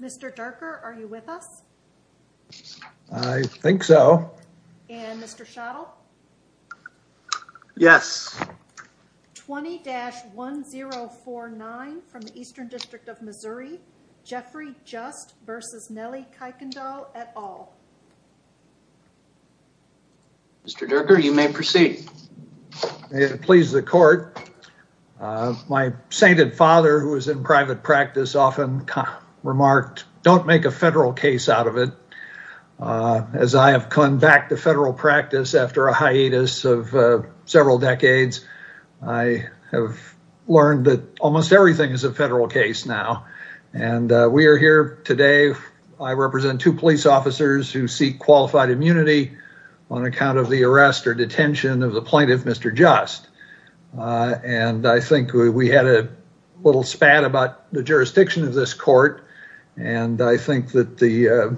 Mr. Derker, are you with us? I think so. And Mr. Schadl? Yes. 20-1049 from the Eastern District of Missouri, Jeffrey Just v. Nellie Kuykendall et al. Mr. Derker, you may proceed. May it please the court, my sainted father who is in private practice, often remarked, don't make a federal case out of it. As I have come back to federal practice after a hiatus of several decades, I have learned that almost everything is a federal case now. And we are here today, I represent two police officers who seek qualified immunity on account of the arrest or detention of the plaintiff, Mr. Just. And I think we had a little spat about the jurisdiction of this court, and I think that there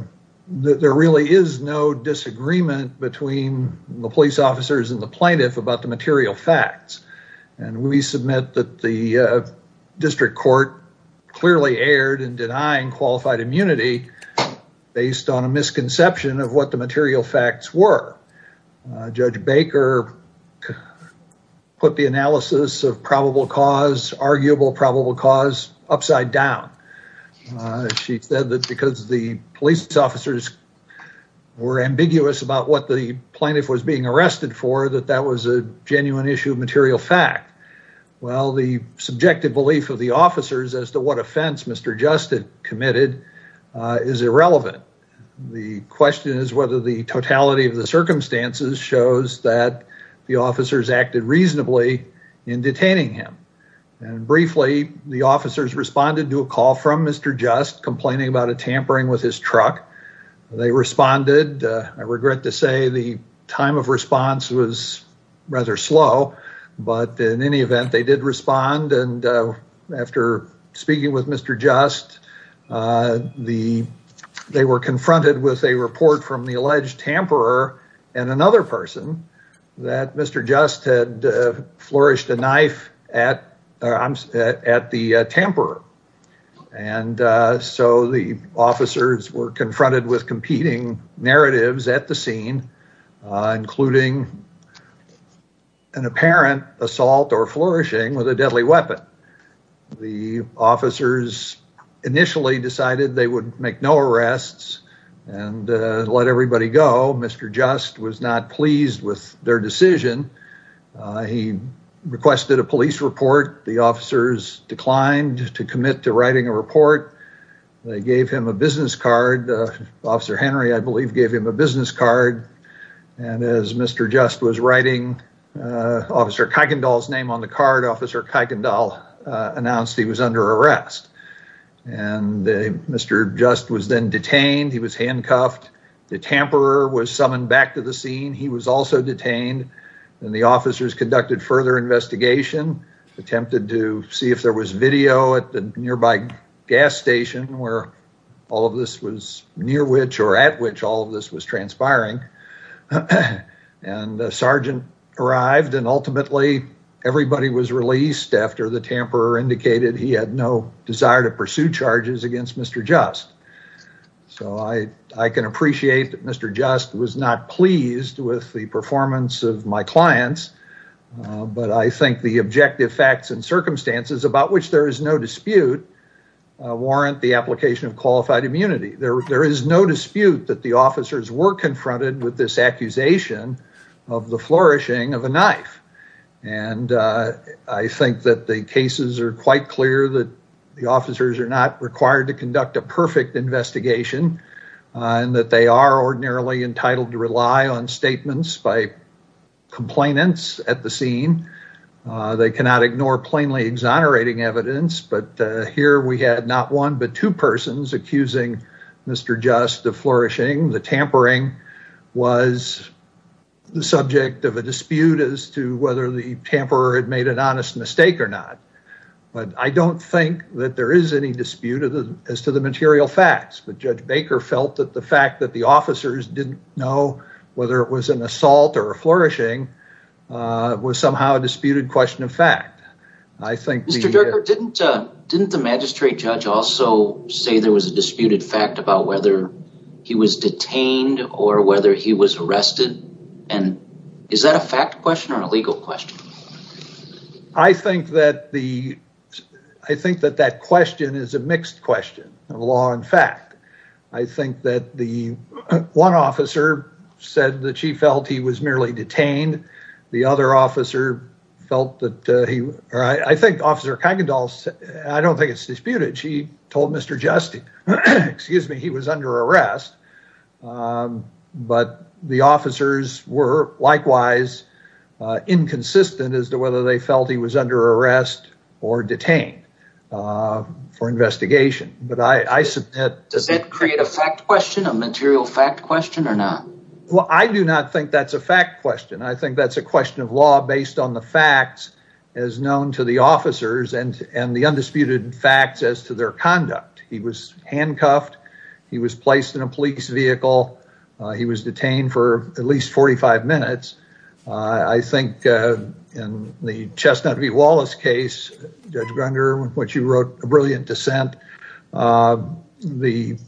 really is no disagreement between the police officers and the plaintiff about the material facts. And we submit that the district court clearly erred in denying qualified immunity based on a misconception of what the upside down. She said that because the police officers were ambiguous about what the plaintiff was being arrested for, that that was a genuine issue of material fact. Well, the subjective belief of the officers as to what offense Mr. Just had committed is irrelevant. The question is whether the totality of the circumstances shows that the officers acted reasonably in detaining him. And briefly, the officers responded to a call from Mr. Just complaining about a tampering with his truck. They responded. I regret to say the time of response was rather slow. But in any event, they did respond. And after speaking with Mr. Just, they were confronted with a report from the alleged tamperer and another person that Mr. Just had flourished a knife at the tamperer. And so the officers were confronted with competing narratives at the scene, including an apparent assault or flourishing with a deadly weapon. The officers initially decided they would make no arrests and let everybody go. Mr. Just was not pleased with their decision. He requested a police report. The officers declined to commit to writing a report. They gave him a business card. Officer Henry, I believe, gave him a business card. And as Mr. Just was writing Officer Kuykendall's name on the card, Officer Kuykendall announced he was under arrest. And Mr. Just was then detained. He was handcuffed. The tamperer was summoned back to the scene. He was also detained. And the officers conducted further investigation, attempted to see if there was video at the nearby gas station where all of this was near which or at which all of this was transpiring. And the sergeant arrived. And tamperer indicated he had no desire to pursue charges against Mr. Just. So I can appreciate that Mr. Just was not pleased with the performance of my clients. But I think the objective facts and circumstances about which there is no dispute warrant the application of qualified immunity. There is no dispute that the officers were clear that the officers are not required to conduct a perfect investigation and that they are ordinarily entitled to rely on statements by complainants at the scene. They cannot ignore plainly exonerating evidence. But here we had not one but two persons accusing Mr. Just of flourishing. The tampering was the subject of a dispute as to whether the tamperer had made an But I don't think that there is any dispute as to the material facts. But Judge Baker felt that the fact that the officers didn't know whether it was an assault or a flourishing was somehow a disputed question of fact. I think Mr. Jerker, didn't the magistrate judge also say there was a disputed fact about whether he was detained or whether he was arrested? And is that a fact question or a legal question? I think that the, I think that that question is a mixed question of law and fact. I think that the one officer said that she felt he was merely detained. The other officer felt that he, I think Officer Kuykendall, I don't think it's disputed. She was under arrest. But the officers were likewise inconsistent as to whether they felt he was under arrest or detained for investigation. But I submit. Does that create a fact question, a material fact question or not? Well, I do not think that's a fact question. I think that's a question of law based on the facts as known to the officers and the undisputed facts as to their conduct. He was handcuffed. He was placed in a police vehicle. He was detained for at least 45 minutes. I think in the Chestnut v. Wallace case, Judge Grunder, what you wrote, a brilliant dissent, the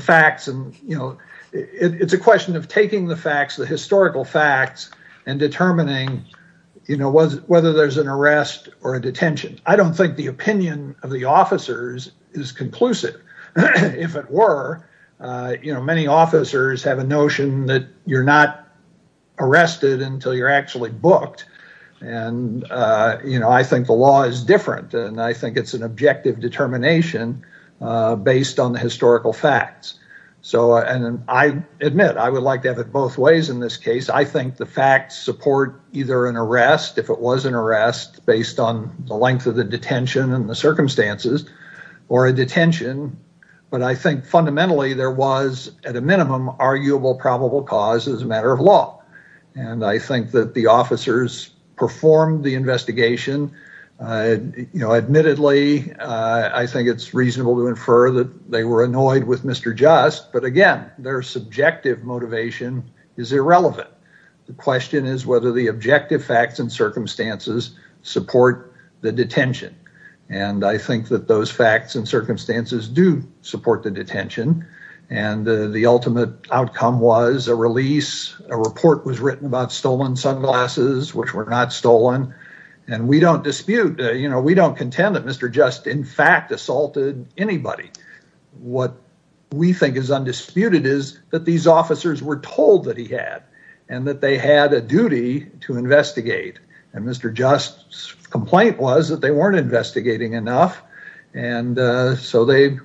facts and, you know, it's a question of taking the facts, the historical facts, and determining, you know, whether there's an arrest or a detention. I don't think the officers is conclusive. If it were, you know, many officers have a notion that you're not arrested until you're actually booked. And, you know, I think the law is different, and I think it's an objective determination based on the historical facts. So and I admit, I would like to have it both ways in this case. I think the facts support either an arrest if it was an arrest based on the length of the detention and the circumstances or a detention. But I think fundamentally there was at a minimum arguable probable cause as a matter of law. And I think that the officers performed the investigation. You know, admittedly, I think it's reasonable to infer that they were annoyed with Mr. Just. But, again, their subjective motivation is support the detention. And I think that those facts and circumstances do support the detention. And the ultimate outcome was a release, a report was written about stolen sunglasses, which were not stolen. And we don't dispute, you know, we don't contend that Mr. Just in fact assaulted anybody. What we think is undisputed is that these officers were told that he had and that they had a duty to investigate. And Mr. Just's complaint was that they weren't investigating enough. And so they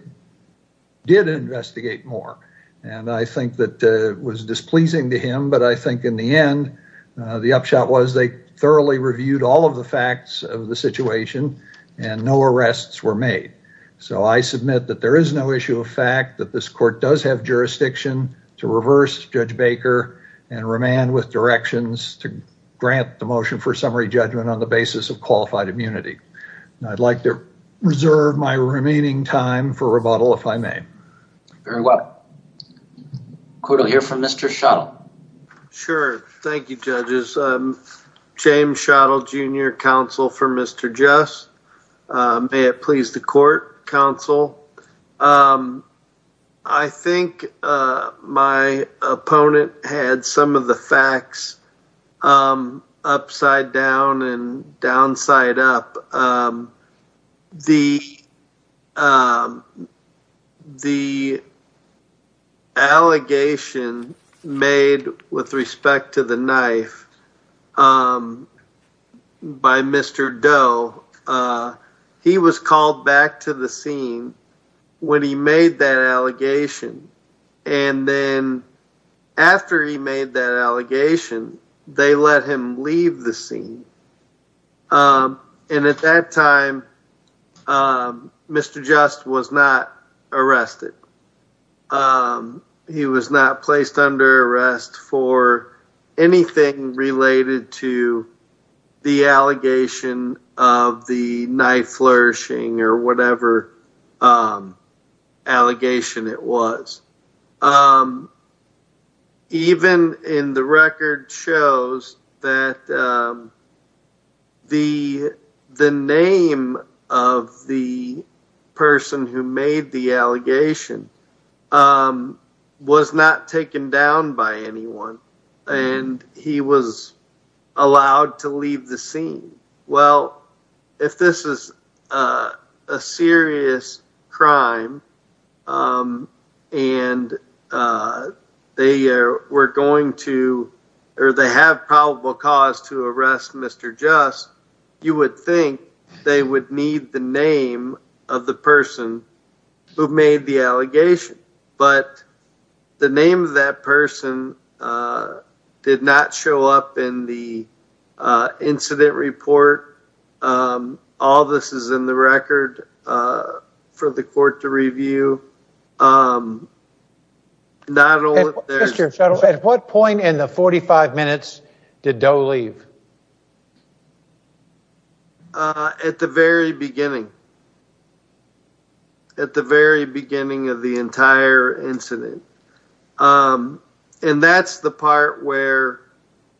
did investigate more. And I think that was displeasing to him. But I think in the end, the upshot was they thoroughly reviewed all of the facts of the situation and no arrests were made. So I submit that there is no issue of fact that this court does have jurisdiction to reverse Judge Baker and remand with directions to grant the motion for summary judgment on the basis of qualified immunity. And I'd like to reserve my remaining time for rebuttal if I may. Very well. Court will hear from Mr. Schottel. Sure. Thank you, judges. James Schottel, Jr., counsel for Mr. Just. May it please the court, counsel. I think my opponent had some of the facts upside down and downside up. The the allegation made with respect to the knife by Mr. Doe, he was called back to the scene when he made that allegation. And then after he made that allegation, they let him leave the scene. And at that time, Mr. Just was not arrested. He was not placed under arrest for anything related to the allegation of the knife flourishing or whatever allegation it was. Even in the record shows that the the name of the person who made the allegation was not taken down by anyone and he was allowed to leave the scene. Well, if this is a serious crime and they were going to or they have probable cause to arrest Mr. Just, you would think they would need the name of the person who made the allegation. But the name of that person did not show up in the incident report. All this is in the record for the court to review. At what point in the 45 minutes did Doe leave? At the very beginning. At the very beginning of the entire incident. And that's the part where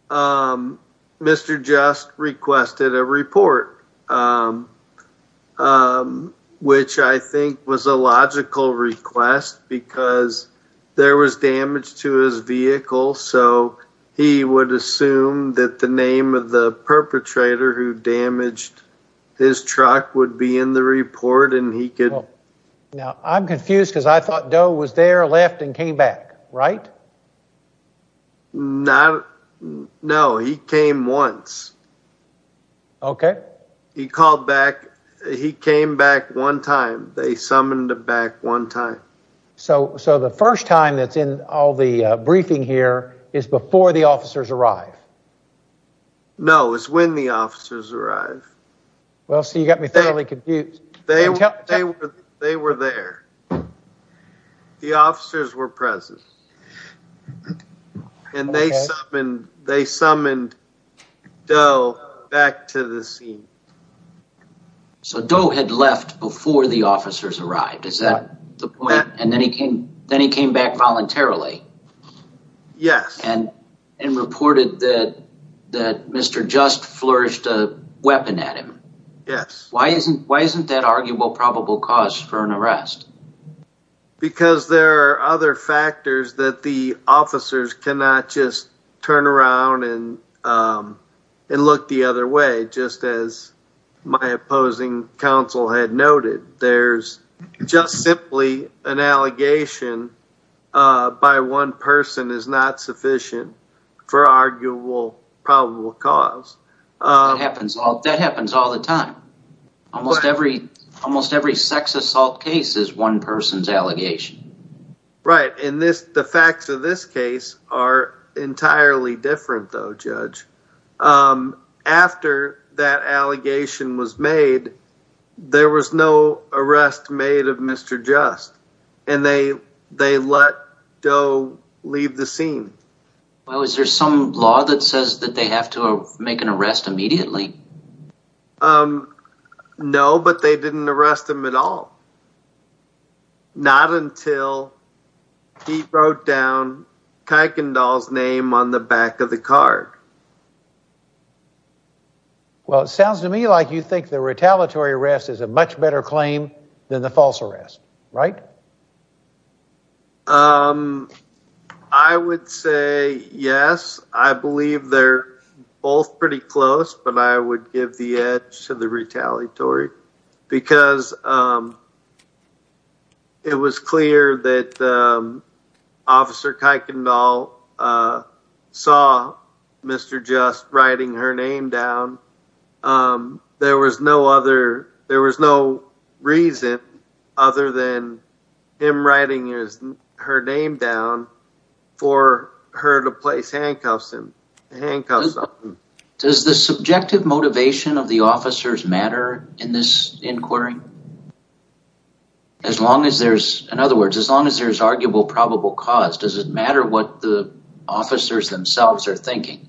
Mr. Just requested a report, which I think was a logical request because there was damage to his vehicle. So he would assume that the name of the perpetrator who damaged his truck would be in the report and he could. Now, I'm confused because I thought Doe was there, left and came back, right? No, he came once. Okay. He called back. He came back one time. They summoned him back one time. So the first time that's in all the briefing here is before the officers arrive? No, it's when the officers arrive. Well, see, you got me thoroughly confused. They were there. The officers were present and they summoned Doe back to the scene. Okay. So Doe had left before the officers arrived. Is that the point? And then he came back voluntarily. Yes. And reported that Mr. Just flourished a weapon at him. Yes. Why isn't that arguable probable cause for an arrest? Because there are other factors that the officers cannot just turn around and look the other way, just as my opposing counsel had noted. There's just simply an allegation by one person is not sufficient for arguable probable cause. That happens all the time. Almost every sex assault case is one person's allegation. Right. And the facts of this case are entirely different, though, Judge. After that allegation was made, there was no arrest made of Mr. Just and they let Doe leave the scene. Well, is there some law that says that they have to make an arrest immediately? Um, no, but they didn't arrest him at all. Not until he wrote down Kuykendall's name on the back of the card. Well, it sounds to me like you think the retaliatory arrest is a much better claim than the false arrest, right? Um, I would say yes. I believe they're both pretty close, but I would give the edge to the retaliatory because, um, it was clear that, um, Officer Kuykendall, uh, saw Mr. Just writing her name down. Um, there was no other, there was no reason other than him writing his, her name down for her to place handcuffs in handcuffs. Does the subjective motivation of the officers matter in this inquiry? As long as there's, in other words, as long as there's arguable probable cause, does it matter what the officers themselves are thinking?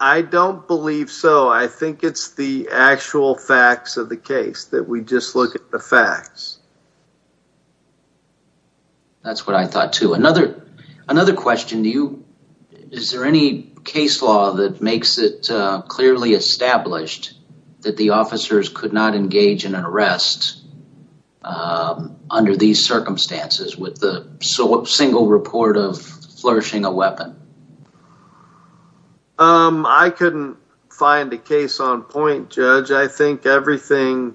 I don't believe so. I think it's the actual facts of the case that we just look at the facts. That's what I thought too. Another, another question, do you, is there any case law that makes it, uh, clearly established that the officers could not engage in an arrest, um, under these circumstances with the single report of flourishing a weapon? Um, I couldn't find a case on point, Judge. I think everything,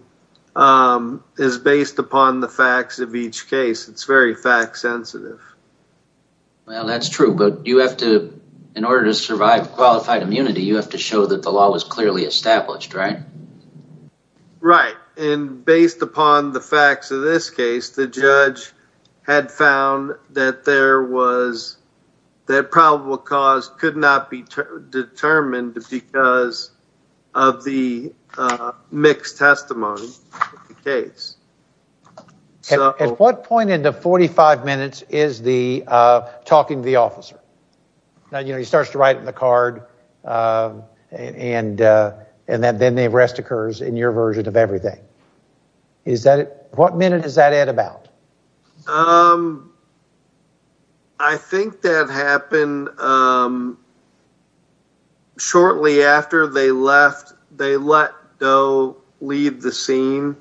um, is based upon the facts of each case. It's very fact sensitive. Well, that's true, but you have to, in order to survive qualified immunity, you have to show that the law was clearly established, right? Right. And based upon the facts of this case, the judge had found that there was, that probable cause could not be determined because of the, uh, mixed testimony of the case. At what point in the 45 minutes is the, uh, talking to the officer? Now, you know, he starts to write in the card, uh, and, uh, and then the arrest occurs in your version of everything. Is that, what minute is that at about? Um, I think that happened, um, shortly after they left, they let Doe leave the scene,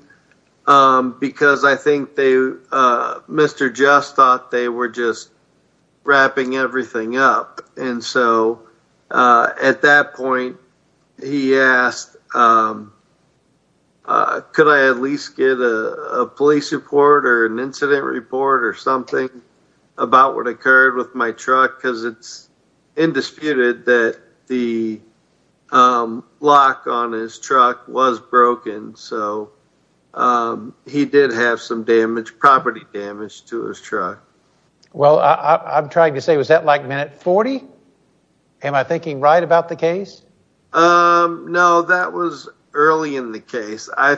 um, because I think they, uh, Mr. Just thought they were just wrapping everything up. And so, uh, at that point he asked, um, uh, could I at least get a, a police report or an incident report or something about what occurred with my truck? Cause it's indisputed that the, um, lock on his truck was broken. So, um, he did have some damage property damage to his truck. Well, I I'm trying to say, was that like minute 40? Am I thinking right about the case? Um, no, that was early in the case. I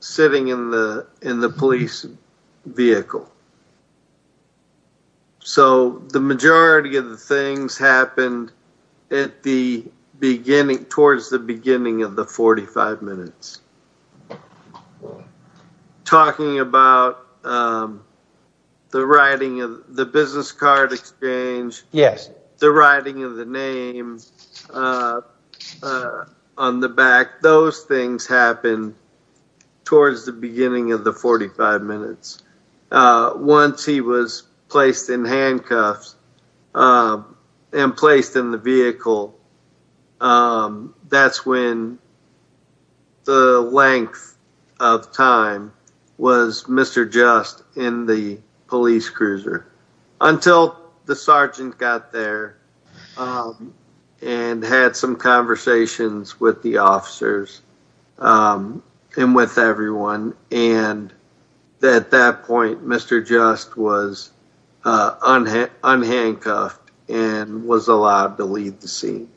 sitting in the, in the police vehicle. So the majority of the things happened at the beginning towards the beginning of the 45 minutes talking about, um, the writing of the business card exchange, the writing of the name, uh, uh, on the back, those things happen towards the beginning of the 45 minutes. Uh, once he was placed in handcuffs, um, and placed in the vehicle, um, that's when the length of time was Mr. Just in the officers, um, and with everyone. And at that point, Mr. Just was, uh, unhandcuffed and was allowed to leave the scene.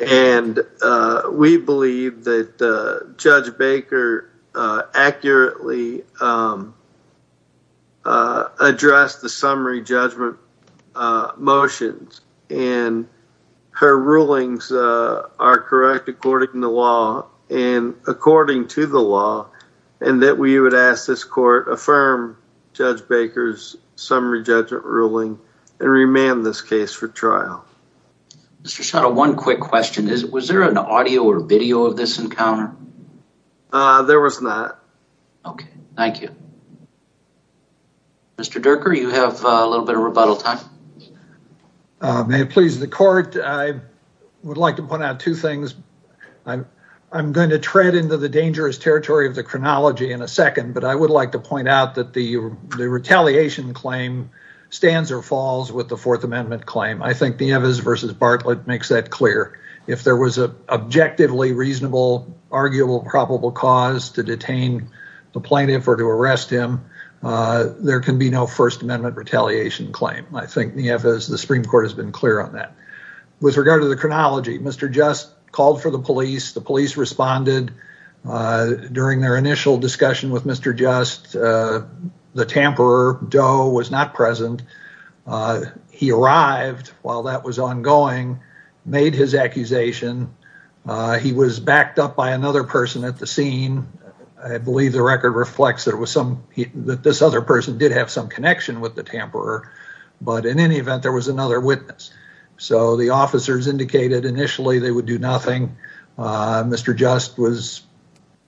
And, uh, we believe that, uh, Judge Baker, uh, accurately, um, uh, addressed the summary judgment, uh, motions and her rulings, uh, are correct, according to law and according to the law. And that we would ask this court affirm Judge Baker's summary judgment ruling and remand this case for trial. Mr. Shuttle, one quick question is, was there an audio or video of this encounter? Uh, there was not. Okay. Thank you. Mr. Durker, you have a little bit of rebuttal time. Uh, may it please the court. I would like to point out two things. I'm, I'm going to tread into the dangerous territory of the chronology in a second, but I would like to point out that the, the retaliation claim stands or falls with the fourth amendment claim. I think versus Bartlett makes that clear. If there was a objectively reasonable, arguable, probable cause to detain the plaintiff or to arrest him, uh, there can be no first amendment retaliation claim. I think the F is the Supreme court has been clear on that. With regard to the chronology, Mr. Just called for the police. The police responded, uh, during their initial discussion with Mr. Just, uh, the tamper doe was not present. Uh, he arrived while that was ongoing, made his accusation. Uh, he was backed up by another person at the scene. I believe the record reflects that it was some, that this other person did have some connection with the tamper, but in any event, there was another witness. So the officers indicated initially they would do nothing. Uh, Mr. Just was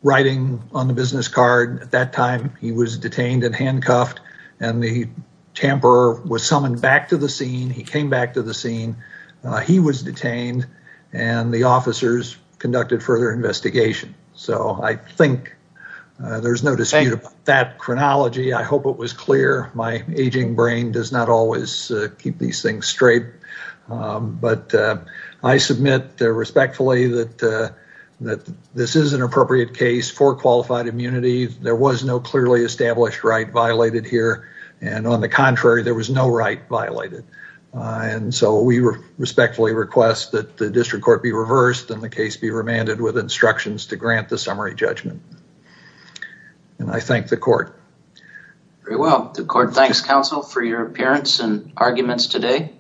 writing on the business card at that time. He was detained and handcuffed and the tamper was summoned back to the scene. He came back to the scene. Uh, he was detained and the officers conducted further investigation. So I think there's no dispute about that chronology. I hope it was clear. My aging brain does not always keep these things straight. Um, but, uh, I submit respectfully that, uh, that this is an appropriate case for qualified immunity. There was no clearly established right violated here. And on the contrary, there was no right violated. Uh, and so we respectfully request that the district court be reversed and the case be remanded with instructions to grant the summary judgment. And I thank the court. Very well. The court thanks counsel for your appearance and arguments today.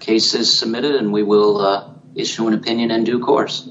Case is submitted and we will, uh, issue an opinion in due course.